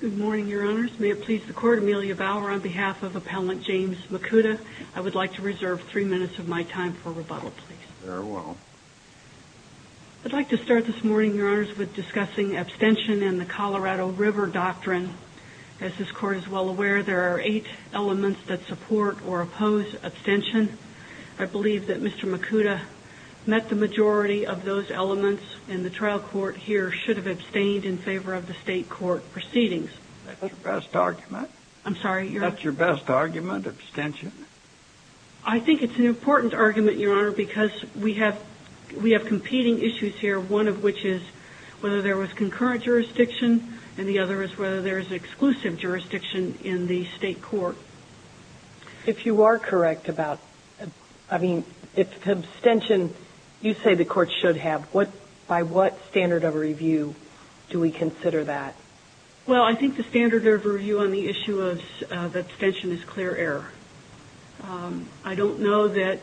Good morning, Your Honors. May it please the Court, Amelia Bauer on behalf of Appellant James Mikuta, I would like to reserve three minutes of my time for rebuttal, please. Very well. I'd like to start this morning, Your Honors, with discussing abstention and the Colorado River Doctrine. As this Court is well aware, there are eight elements that support or oppose abstention. I believe that Mr. Mikuta met the majority of those elements, and the trial court here should have abstained in favor of the state court proceedings. That's your best argument? I'm sorry? That's your best argument, abstention? I think it's an important argument, Your Honor, because we have competing issues here, one of which is whether there was concurrent jurisdiction, and the other is whether there is exclusive jurisdiction in the state court. If you are correct about, I mean, if abstention, you say the court should have, by what standard of review do we consider that? Well, I think the standard of review on the issue of abstention is clear error. I don't know that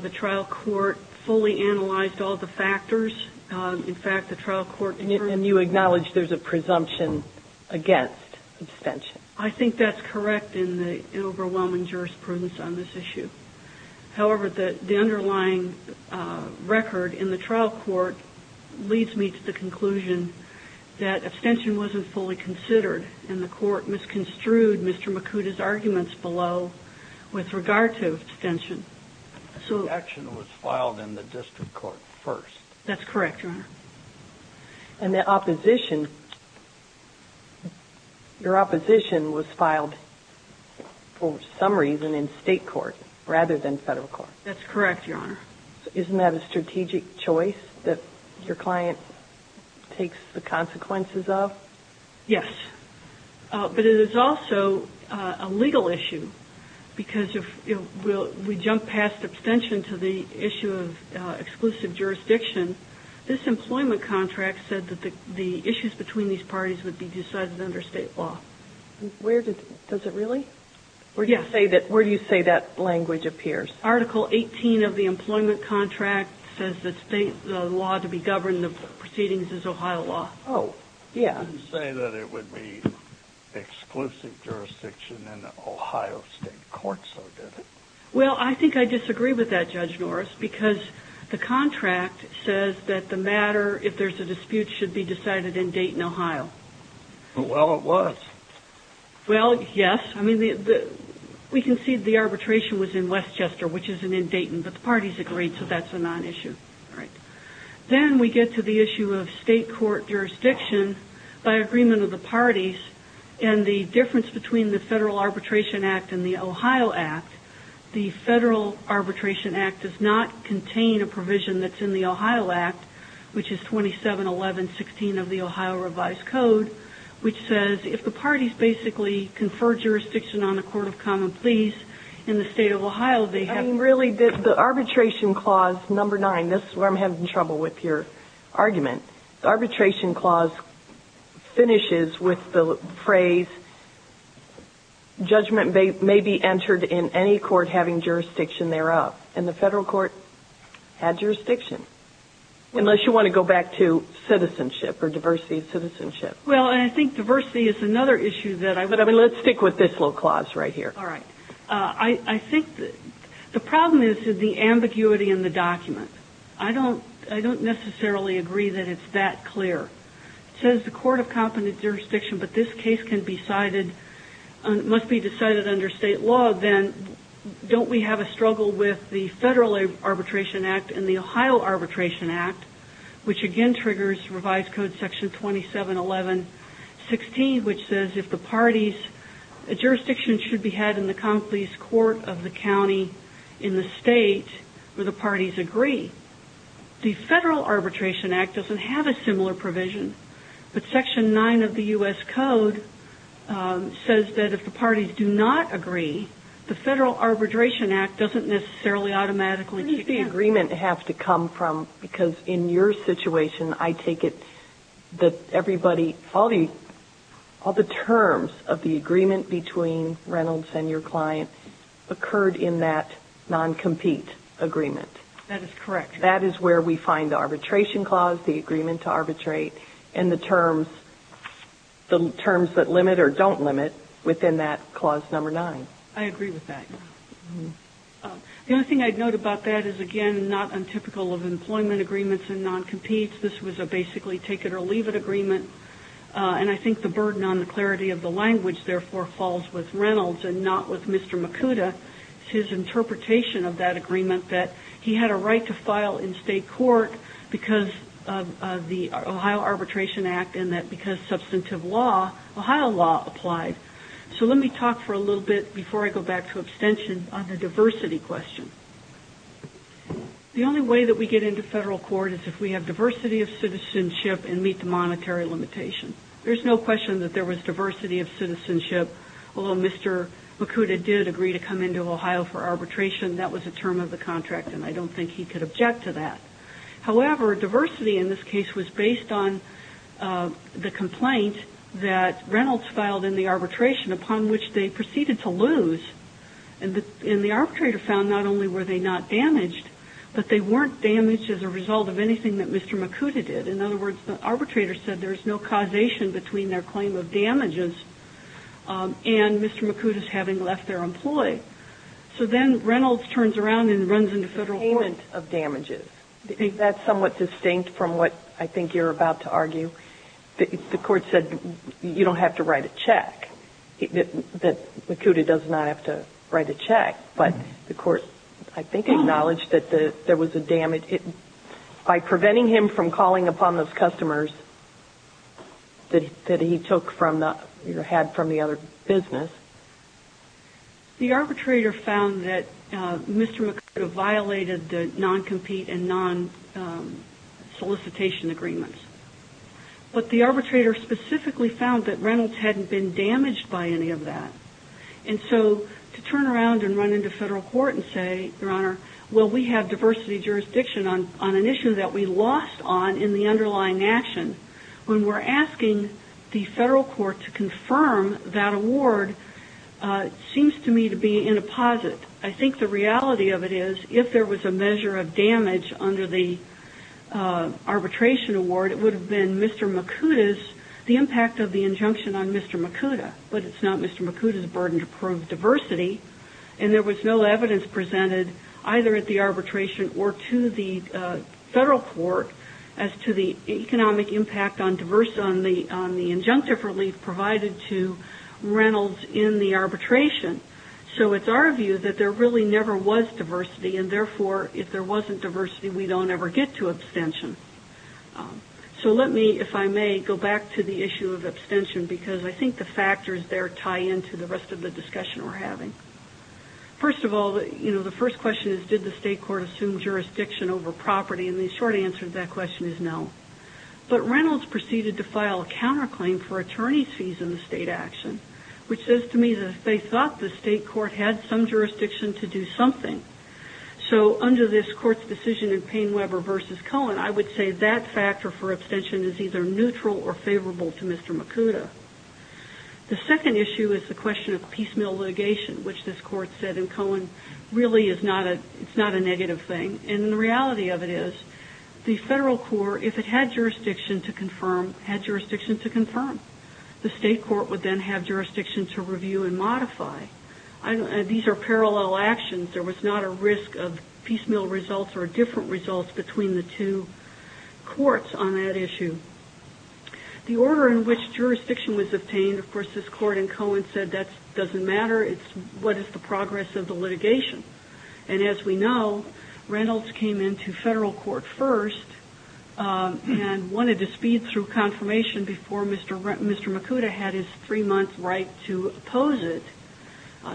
the trial court fully analyzed all the factors. In fact, the trial court determined... And you acknowledge there's a presumption against abstention? I think that's correct in the overwhelming jurisprudence on this issue. However, the underlying record in the trial court leads me to the conclusion that abstention wasn't fully considered, and the court misconstrued Mr. Makuta's arguments below with regard to abstention. So... The action was filed in the district court first. That's correct, Your Honor. And the opposition, your opposition was filed for some reason in state court rather than federal court. That's correct, Your Honor. Isn't that a strategic choice that your client takes the consequences of? Yes. But it is also a legal issue, because if we jump past abstention to the issue of exclusive jurisdiction, this employment contract said that the issues between these parties would be decided under state law. Where did it? Does it really? Yes. Where do you say that language appears? Article 18 of the employment contract says that the law to be governed in the proceedings is Ohio law. Oh. Yeah. You say that it would be exclusive jurisdiction in the Ohio state court, so did it? Well, I think I disagree with that, Judge Norris, because the contract says that the matter, if there's a dispute, should be decided in Dayton, Ohio. Well, it was. Well, yes. I mean, we concede the arbitration was in Westchester, which isn't in Dayton, but the parties agreed, so that's a non-issue. Then we get to the issue of state court jurisdiction by agreement of the parties and the difference between the Federal Arbitration Act and the Ohio Act. The Federal Arbitration Act does not contain a provision that's in the Ohio Act, which is 2711.16 of the Ohio Revised Code, which says if the parties basically confer jurisdiction on a court of common pleas in the state of Ohio, they have... I mean, really, the arbitration clause, number 9, this is where I'm having trouble with your argument. The arbitration clause finishes with the phrase, judgment may be entered in any court having jurisdiction thereof, and the federal court had jurisdiction. Unless you want to go back to citizenship or diversity of citizenship. Well, and I think diversity is another issue that I would... But, I mean, let's stick with this little clause right here. All right. I think the problem is the ambiguity in the document. I don't necessarily agree that it's that clear. It says the court of competent jurisdiction, but this case can be cited, must be decided under state law, then don't we have a struggle with the Federal Arbitration Act and the Ohio Arbitration Act, which again triggers Revised Code Section 2711.16, which says if the parties... A jurisdiction should be had in the common pleas court of the county in the state where the parties agree. The Federal Arbitration Act doesn't have a similar provision, but Section 9 of the U.S. Code says that if the parties do not agree, the Federal Arbitration Act doesn't necessarily automatically... Where does the agreement have to come from? Because in your situation, I take it that everybody... All the terms of the agreement between Reynolds and your client occurred in that non-compete agreement. That is correct. That is where we find the arbitration clause, the agreement to arbitrate, and the terms that limit or don't limit within that clause number nine. I agree with that. The only thing I'd note about that is, again, not untypical of employment agreements and non-competes. This was a basically take-it-or-leave-it agreement. And I think the burden on the clarity of the language, therefore, falls with Reynolds and not with Mr. Makuta. It's his interpretation of that agreement that he had a right to file in state court because of the Ohio Arbitration Act and that because substantive law, Ohio law applied. Let me talk for a little bit, before I go back to abstention, on the diversity question. The only way that we get into federal court is if we have diversity of citizenship and meet the monetary limitation. There's no question that there was diversity of citizenship, although Mr. Makuta did agree to come into Ohio for arbitration. That was a term of the contract, and I don't think he could object to that. However, diversity in this case was based on the complaint that Reynolds filed in the arbitration, upon which they proceeded to lose, and the arbitrator found not only were they not damaged, but they weren't damaged as a result of anything that Mr. Makuta did. In other words, the arbitrator said there's no causation between their claim of damages and Mr. Makuta's having left their employee. So then Reynolds turns around and runs into federal court. Payment of damages, that's somewhat distinct from what I think you're about to argue. The court said you don't have to write a check, that Makuta does not have to write a check, but the court, I think, acknowledged that there was a damage. By preventing him from calling upon those customers that he took from the, or had from the other business. The arbitrator found that Mr. Makuta violated the non-compete and non-solicitation agreements, but the arbitrator specifically found that Reynolds hadn't been damaged by any of that. And so, to turn around and run into federal court and say, your honor, well, we have diversity jurisdiction on an issue that we lost on in the underlying action, when we're asking the seems to me to be in a posit. I think the reality of it is, if there was a measure of damage under the arbitration award, it would have been Mr. Makuta's, the impact of the injunction on Mr. Makuta. But it's not Mr. Makuta's burden to prove diversity, and there was no evidence presented either at the arbitration or to the federal court as to the economic impact on the injunctive relief provided to Reynolds in the arbitration. So it's our view that there really never was diversity, and therefore, if there wasn't diversity, we don't ever get to abstention. So let me, if I may, go back to the issue of abstention, because I think the factors there tie into the rest of the discussion we're having. First of all, you know, the first question is, did the state court assume jurisdiction over property? And the short answer to that question is no. But Reynolds proceeded to file a counterclaim for attorney's fees in the state action, which says to me that they thought the state court had some jurisdiction to do something. So under this court's decision in Payne-Webber v. Cohen, I would say that factor for abstention is either neutral or favorable to Mr. Makuta. The second issue is the question of piecemeal litigation, which this court said in Cohen really is not a negative thing. And the reality of it is, the federal court, if it had jurisdiction to confirm, had jurisdiction to confirm. The state court would then have jurisdiction to review and modify. These are parallel actions. There was not a risk of piecemeal results or different results between the two courts on that issue. The order in which jurisdiction was obtained, of course, this court in Cohen said that doesn't matter. It's what is the progress of the litigation. And as we know, Reynolds came into federal court first and wanted to speed through confirmation before Mr. Makuta had his three-month right to oppose it.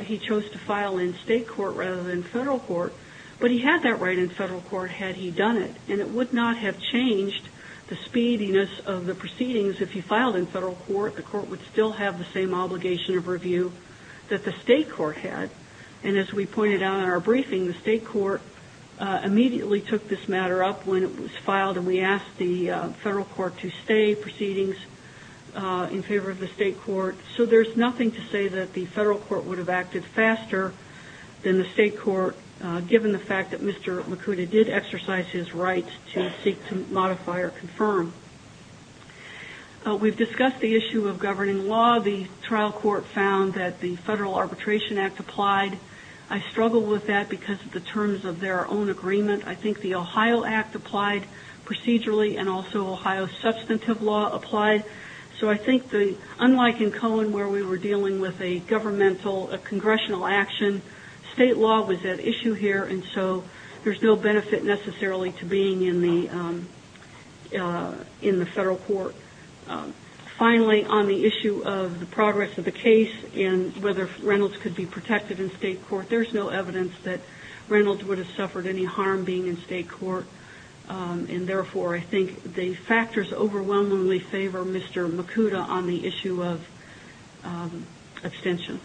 He chose to file in state court rather than federal court. But he had that right in federal court had he done it. And it would not have changed the speediness of the proceedings if he filed in federal court. The court would still have the same obligation of review that the state court had. And as we pointed out in our briefing, the state court immediately took this matter up when it was filed. And we asked the federal court to stay proceedings in favor of the state court. So there's nothing to say that the federal court would have acted faster than the state court, given the fact that Mr. Makuta did exercise his right to seek to modify or confirm. We've discussed the issue of governing law. The trial court found that the Federal Arbitration Act applied. I struggle with that because of the terms of their own agreement. I think the Ohio Act applied procedurally and also Ohio substantive law applied. So I think unlike in Cohen where we were dealing with a governmental, a congressional action, state law was at issue here. And so there's no benefit necessarily to being in the federal court. Finally, on the issue of the progress of the case and whether Reynolds could be protected in state court, there's no evidence that Reynolds would have suffered any harm being in state court. And therefore, I think the factors overwhelmingly favor Mr. Makuta on the issue of abstention.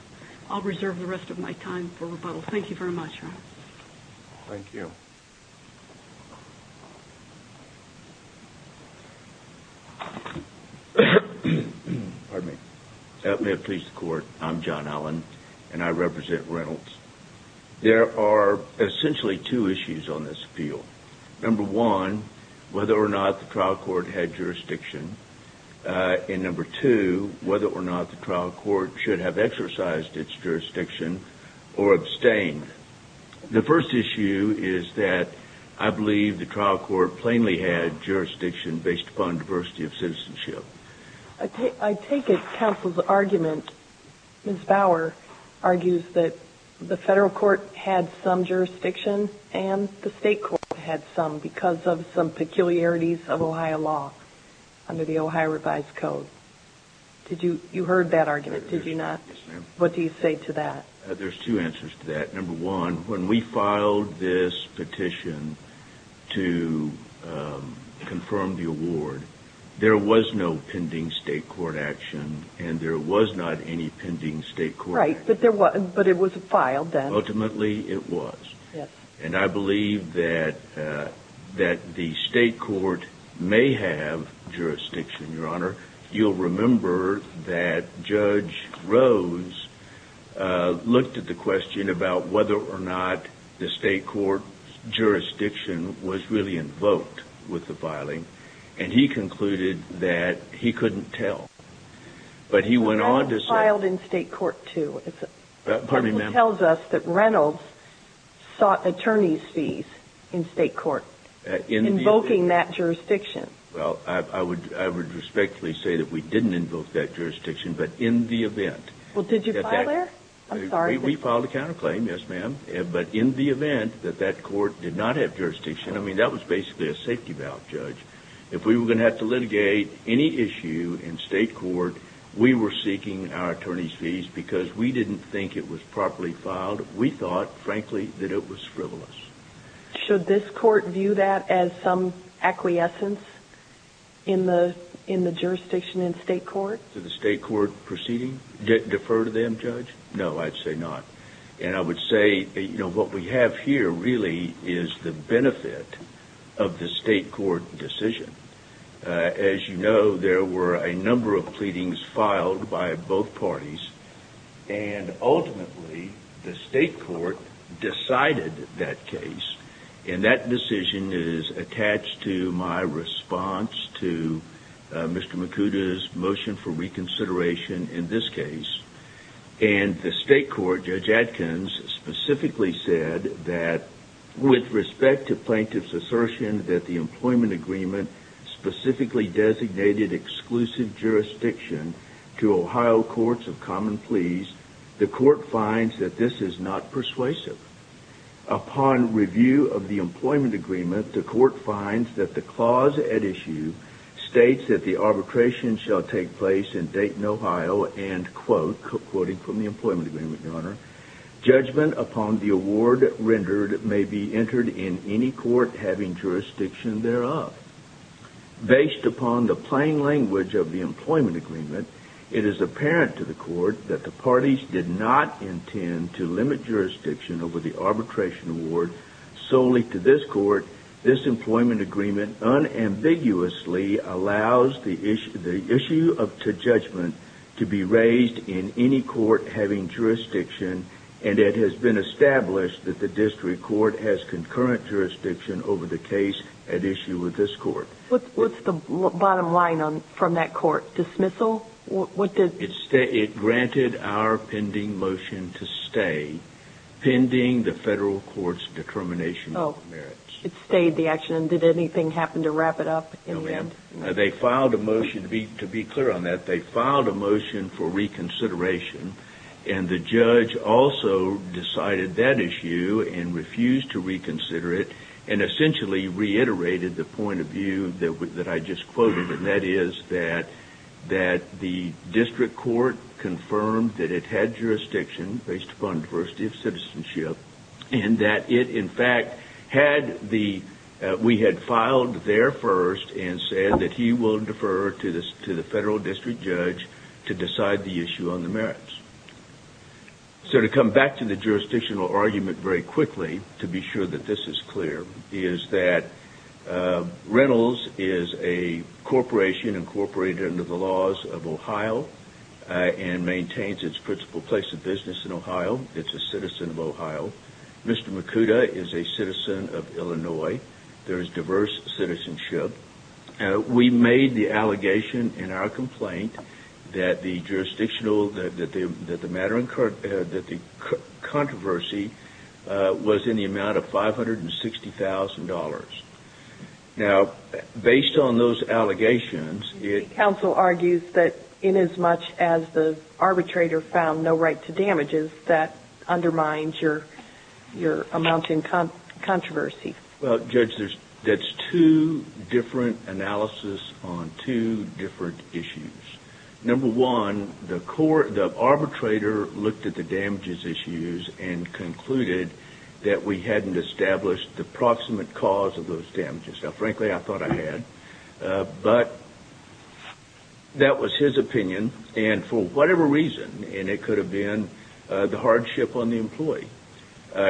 I'll reserve the rest of my time for rebuttal. Thank you very much. Thank you. May it please the court. I'm John Allen and I represent Reynolds. There are essentially two issues on this appeal. Number one, whether or not the trial court had jurisdiction. And number two, whether or not the trial court should have exercised its jurisdiction or abstained. The first issue is that I believe the trial court plainly had jurisdiction based upon diversity of citizenship. I take it counsel's argument, Ms. Bower, argues that the federal court had some jurisdiction and the state court had some because of some peculiarities of Ohio law under the Ohio revised code. Did you, you heard that argument, did you not? What do you say to that? There's two answers to that. Number one, when we filed this petition to confirm the award, there was no pending state court action and there was not any pending state court action. Right, but there was, but it was filed then. Ultimately, it was. And I believe that that the state court may have jurisdiction, Your Honor. You'll remember that Judge Rose looked at the question about whether or not the state court jurisdiction was really invoked with the filing and he concluded that he couldn't tell. But he went on to say... It was filed in state court too. Pardon me, ma'am. It tells us that Reynolds sought attorney's fees in state court invoking that jurisdiction. Well, I would respectfully say that we didn't invoke that jurisdiction, but in the event... Well, did you file there? I'm sorry. We filed a counterclaim, yes, ma'am. But in the event that that court did not have jurisdiction, I mean, that was basically a safety valve, Judge. If we were going to have to litigate any issue in state court, we were seeking our attorney's fees because we didn't think it was properly filed. We thought, frankly, that it was frivolous. Should this court view that as some acquiescence? In the jurisdiction in state court? Did the state court proceeding defer to them, Judge? No, I'd say not. And I would say, you know, what we have here really is the benefit of the state court decision. As you know, there were a number of pleadings filed by both parties. And ultimately, the state court decided that case. And that decision is attached to my response to Mr. Makuda's motion for reconsideration in this case. And the state court, Judge Adkins, specifically said that with respect to plaintiff's assertion that the employment agreement specifically designated exclusive jurisdiction to Ohio courts of common pleas, the court finds that this is not persuasive. Upon review of the employment agreement, the court finds that the clause at issue states that the arbitration shall take place in Dayton, Ohio, and quote, quoting from the employment agreement, Your Honor, judgment upon the award rendered may be entered in any court having jurisdiction thereof. Based upon the plain language of the employment agreement, it is apparent to the court that the parties did not intend to limit jurisdiction over the arbitration award solely to this court. This employment agreement unambiguously allows the issue of judgment to be raised in any court having jurisdiction. And it has been established that the district court has concurrent jurisdiction over the case at issue with this court. What's the bottom line from that court? Dismissal? It granted our pending motion to stay, pending the federal court's determination of the merits. It stayed the action. Did anything happen to wrap it up? They filed a motion to be clear on that. They filed a motion for reconsideration, and the judge also decided that issue and refused to reconsider it and essentially reiterated the point of view that I just the district court confirmed that it had jurisdiction based upon diversity of citizenship and that it, in fact, had the we had filed there first and said that he will defer to the federal district judge to decide the issue on the merits. So to come back to the jurisdictional argument very quickly, to be sure that this is clear, is that Reynolds is a corporation incorporated under the laws of Ohio and maintains its principal place of business in Ohio. It's a citizen of Ohio. Mr. Makuta is a citizen of Illinois. There is diverse citizenship. We made the allegation in our complaint that the jurisdictional, that the matter was worth more than $60,000. Now, based on those allegations, it- Counsel argues that in as much as the arbitrator found no right to damages, that undermines your amount in controversy. Well, judge, there's two different analysis on two different issues. Number one, the arbitrator looked at the damages issues and concluded that we hadn't established the proximate cause of those damages. Now, frankly, I thought I had, but that was his opinion. And for whatever reason, and it could have been the hardship on the employee,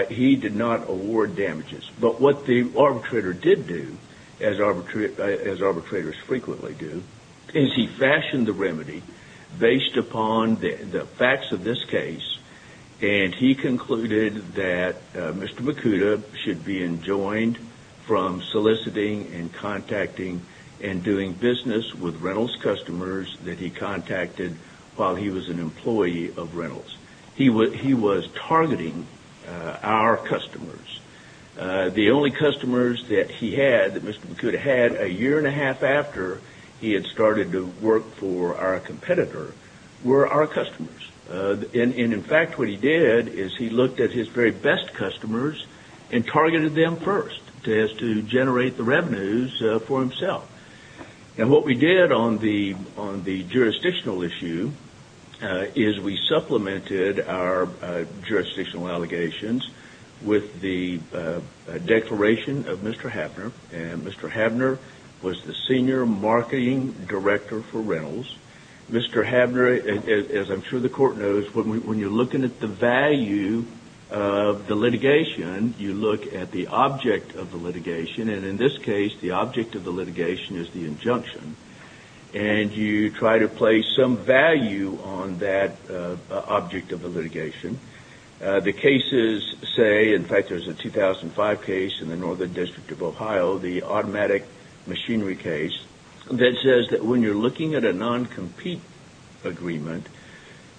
he did not award damages. But what the arbitrator did do, as arbitrators frequently do, is he fashioned the remedy based upon the facts of this case. And he concluded that Mr. Makuta should be enjoined from soliciting and contacting and doing business with Reynolds customers that he contacted while he was an employee of Reynolds. He was targeting our customers. The only customers that he had, that Mr. Makuta had a year and a half after he had started to work for our competitor, were our customers. And in fact, what he did is he looked at his very best customers and targeted them first as to generate the revenues for himself. And what we did on the jurisdictional issue is we supplemented our jurisdictional allegations with the declaration of Mr. Habner. Mr. Habner was the senior marketing director for Reynolds. Mr. Habner, as I'm sure the court knows, when you're looking at the value of the litigation, you look at the object of the litigation. And in this case, the object of the litigation is the injunction. And you try to place some value on that object of the litigation. The cases say, in fact, there's a 2005 case in the Northern District of Ohio, the non-compete agreement.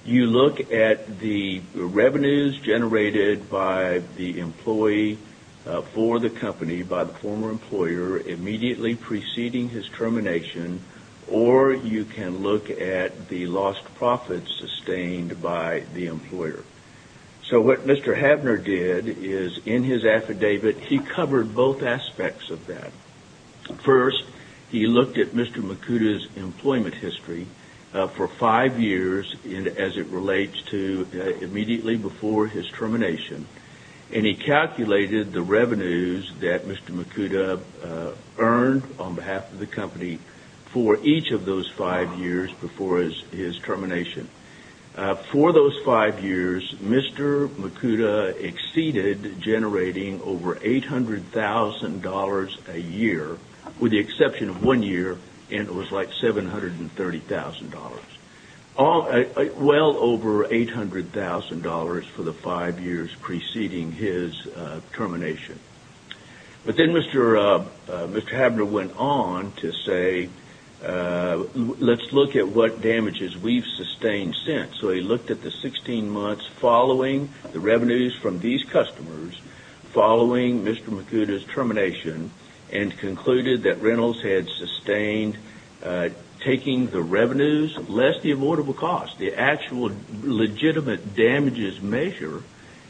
You look at the revenues generated by the employee for the company by the former employer immediately preceding his termination, or you can look at the lost profits sustained by the employer. So what Mr. Habner did is in his affidavit, he covered both aspects of that. First, he looked at Mr. Makuta's employment history for five years, as it relates to immediately before his termination, and he calculated the revenues that Mr. Makuta earned on behalf of the company for each of those five years before his termination. For those five years, Mr. Makuta exceeded generating over $800,000 a year, with the exception of one year, and it was like $730,000. Well over $800,000 for the five years preceding his termination. But then Mr. Habner went on to say, let's look at what damages we've sustained since. So he looked at the 16 months following the revenues from these customers, following Mr. Makuta's termination, and concluded that Reynolds had sustained taking the revenues less the avoidable costs. The actual legitimate damages measure,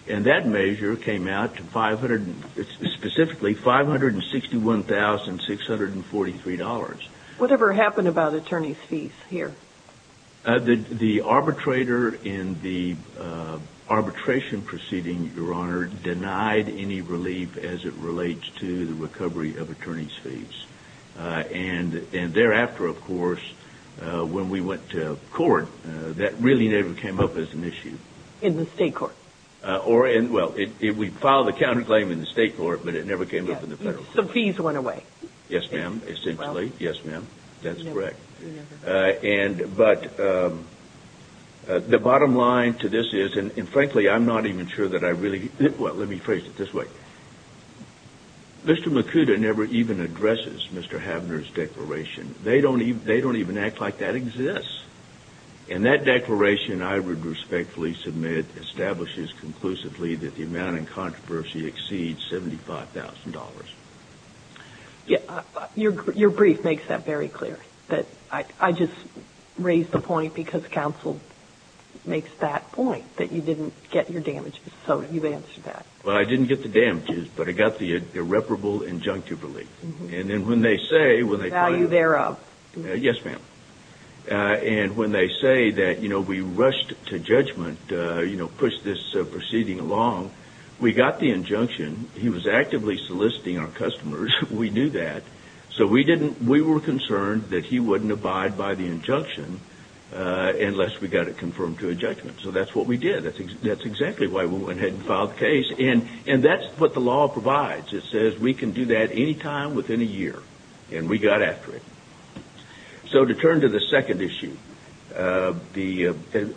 and that measure came out to specifically $561,643. Whatever happened about attorney's fees here? The arbitrator in the arbitration proceeding, Your Honor, denied any relief and thereafter, of course, when we went to court, that really never came up as an issue. In the state court? Or, well, we filed a counterclaim in the state court, but it never came up in the federal court. So fees went away? Yes, ma'am, essentially. Yes, ma'am. That's correct. But the bottom line to this is, and frankly, I'm not even sure that I really Well, let me phrase it this way. Mr. Makuta never even addresses Mr. Havner's declaration. They don't even act like that exists. And that declaration, I would respectfully submit, establishes conclusively that the amount in controversy exceeds $75,000. Yeah, your brief makes that very clear. But I just raised the point because counsel makes that point, that you didn't get your damages. So you've answered that. Well, I didn't get the damages, but I got the irreparable injunctive relief. And then when they say, when they claim The value thereof. Yes, ma'am. And when they say that, you know, we rushed to judgment, you know, pushed this proceeding along, we got the injunction. He was actively soliciting our customers. We knew that. So we didn't, we were concerned that he wouldn't abide by the injunction unless we got it confirmed to a judgment. So that's what we did. That's exactly why we went ahead and filed the case. And that's what the law provides. It says we can do that any time within a year. And we got after it. So to turn to the second issue, the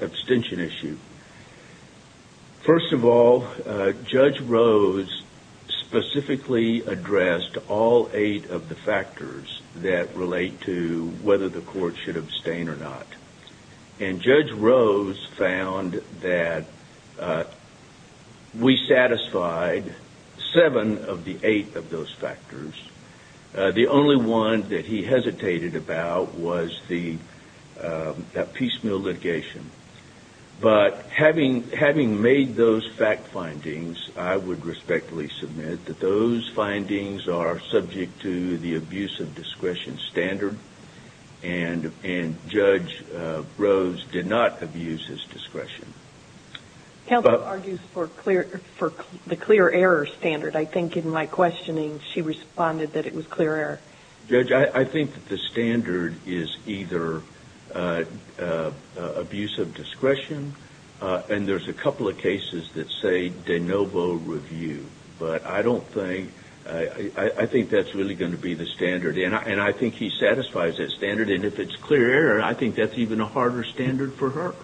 abstention issue. First of all, Judge Rose specifically addressed all eight of the factors that relate to whether the court should abstain or not. And Judge Rose found that we satisfied seven of the eight of those factors. The only one that he hesitated about was the piecemeal litigation. But having made those fact findings, I would respectfully submit that those findings are subject to the abuse of discretion standard. And Judge Rose did not abuse his discretion. Helga argues for the clear error standard. I think in my questioning, she responded that it was clear error. Judge, I think that the standard is either abuse of discretion, and there's a couple of cases that say de novo review, but I don't think, I think that's really going to be the standard. And I think he satisfies that standard. And if it's clear error, I think that's even a harder standard for her.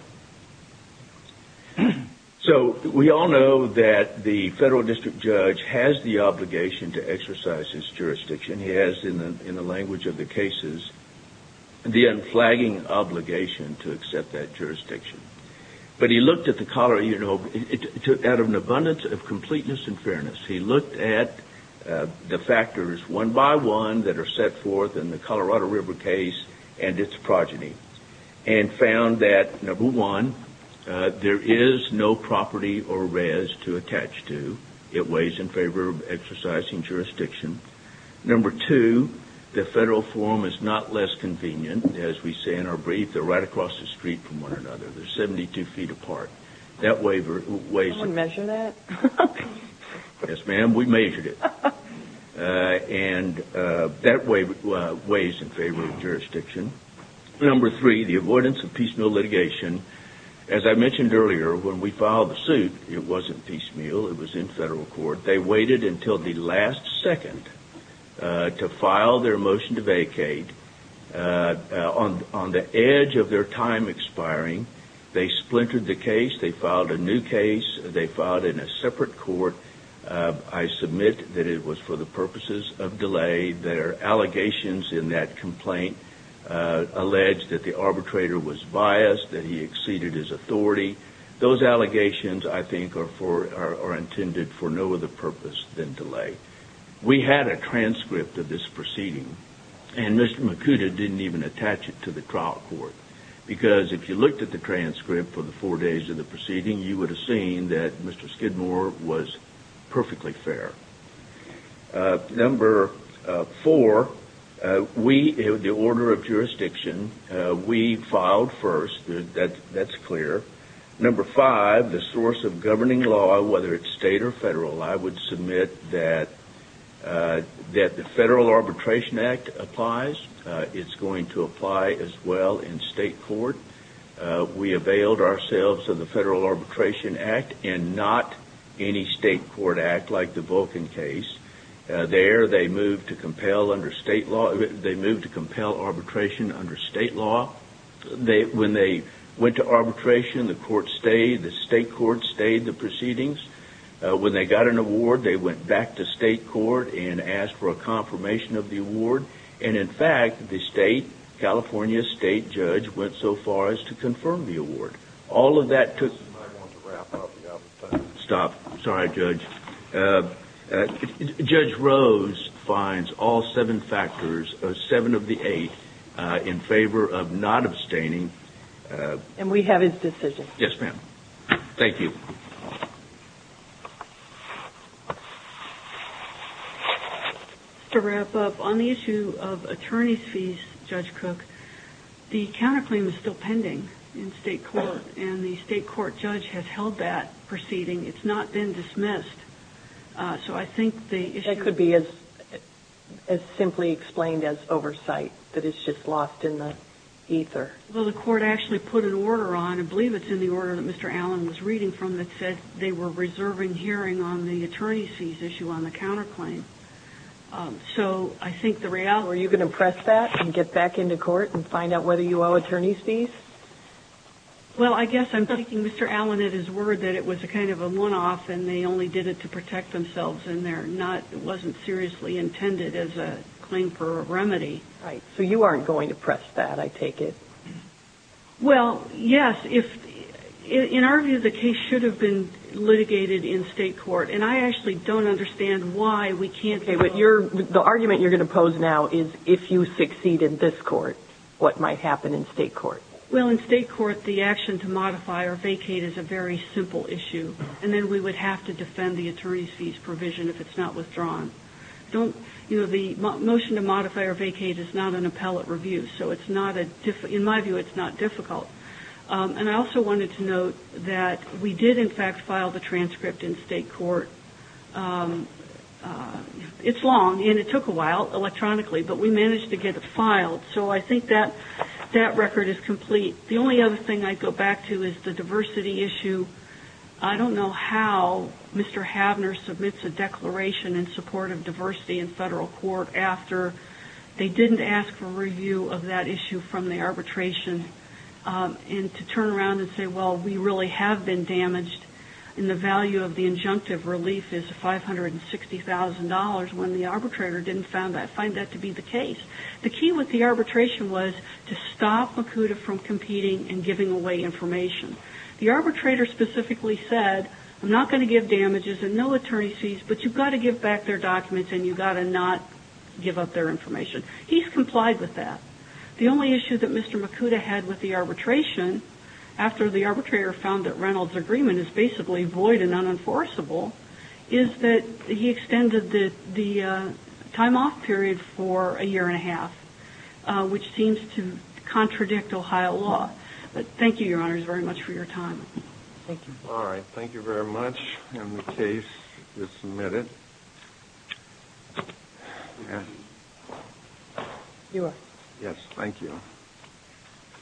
So we all know that the federal district judge has the obligation to exercise his jurisdiction. He has, in the language of the cases, the unflagging obligation to accept that jurisdiction. But he looked at the cholera, you know, out of an abundance of completeness and fairness. He looked at the factors one by one that are set forth in the Colorado River case and its progeny and found that, number one, there is no property or rez to attach to. It weighs in favor of exercising jurisdiction. Number two, the federal form is not less convenient. As we say in our brief, they're right across the street from one another. They're 72 feet apart. That waiver weighs in favor of exercising jurisdiction. Can someone measure that? Yes, ma'am. We measured it. And that waiver weighs in favor of jurisdiction. Number three, the avoidance of piecemeal litigation. As I mentioned earlier, when we filed the suit, it wasn't piecemeal. It was in federal court. They waited until the last second to file their motion to vacate. On the edge of their time expiring, they splintered the case. They filed a new case. They filed in a separate court. I submit that it was for the purposes of delay. Their allegations in that complaint alleged that the arbitrator was biased, that he exceeded his authority. Those allegations, I think, are intended for no other purpose than delay. We had a transcript of this proceeding, and Mr. Makuta didn't even attach it to the trial court. Because if you looked at the transcript for the four days of the proceeding, you would have seen that Mr. Skidmore was perfectly fair. Number four, the order of jurisdiction. We filed first. That's clear. Number five, the source of governing law, whether it's state or federal. I would submit that the Federal Arbitration Act applies. It's going to apply as well in state court. We availed ourselves of the Federal Arbitration Act and not any state court act like the Vulcan case. There, they moved to compel arbitration under state law. When they went to arbitration, the state court stayed the proceedings. When they got an award, they went back to state court and asked for a confirmation of the award. In fact, the California state judge went so far as to confirm the award. All of that took- I want to wrap up. We have to stop. Sorry, Judge. Judge Rose finds all seven factors, seven of the eight, in favor of not abstaining. And we have his decision. Yes, ma'am. Thank you. To wrap up, on the issue of attorney's fees, Judge Cook, the counterclaim is still pending in state court. And the state court judge has held that proceeding. It's not been dismissed. So I think the issue- That could be as simply explained as oversight, that it's just lost in the ether. Well, the court actually put an order on, I believe it's in the order that Mr. Allen had sent, they were reserving hearing on the attorney's fees issue on the counterclaim. So I think the reality- Were you going to press that and get back into court and find out whether you owe attorney's fees? Well, I guess I'm taking Mr. Allen at his word that it was a kind of a one-off and they only did it to protect themselves and it wasn't seriously intended as a claim for a remedy. Right. So you aren't going to press that, I take it? Well, yes. In our view, the case should have been litigated in state court. And I actually don't understand why we can't- Okay, but the argument you're going to pose now is if you succeed in this court, what might happen in state court? Well, in state court, the action to modify or vacate is a very simple issue. And then we would have to defend the attorney's fees provision if it's not withdrawn. Don't- You know, the motion to modify or vacate is not an appellate review. So it's not a- In my view, it's not difficult. And I also wanted to note that we did in fact file the transcript in state court. It's long and it took a while electronically, but we managed to get it filed. So I think that record is complete. The only other thing I'd go back to is the diversity issue. I don't know how Mr. Havner submits a declaration in support of diversity in federal court after they and to turn around and say, well, we really have been damaged in the value of the injunctive relief is $560,000. When the arbitrator didn't find that to be the case. The key with the arbitration was to stop Makuta from competing and giving away information. The arbitrator specifically said, I'm not going to give damages and no attorney's fees, but you've got to give back their documents and you've got to not give up their information. He's complied with that. The only issue that Mr. Makuta had with the arbitration after the arbitrator found that Reynolds agreement is basically void and unenforceable is that he extended the time off period for a year and a half, which seems to contradict Ohio law, but thank you, your honors very much for your time. Thank you. All right. Thank you very much. And the case is submitted. Thank you.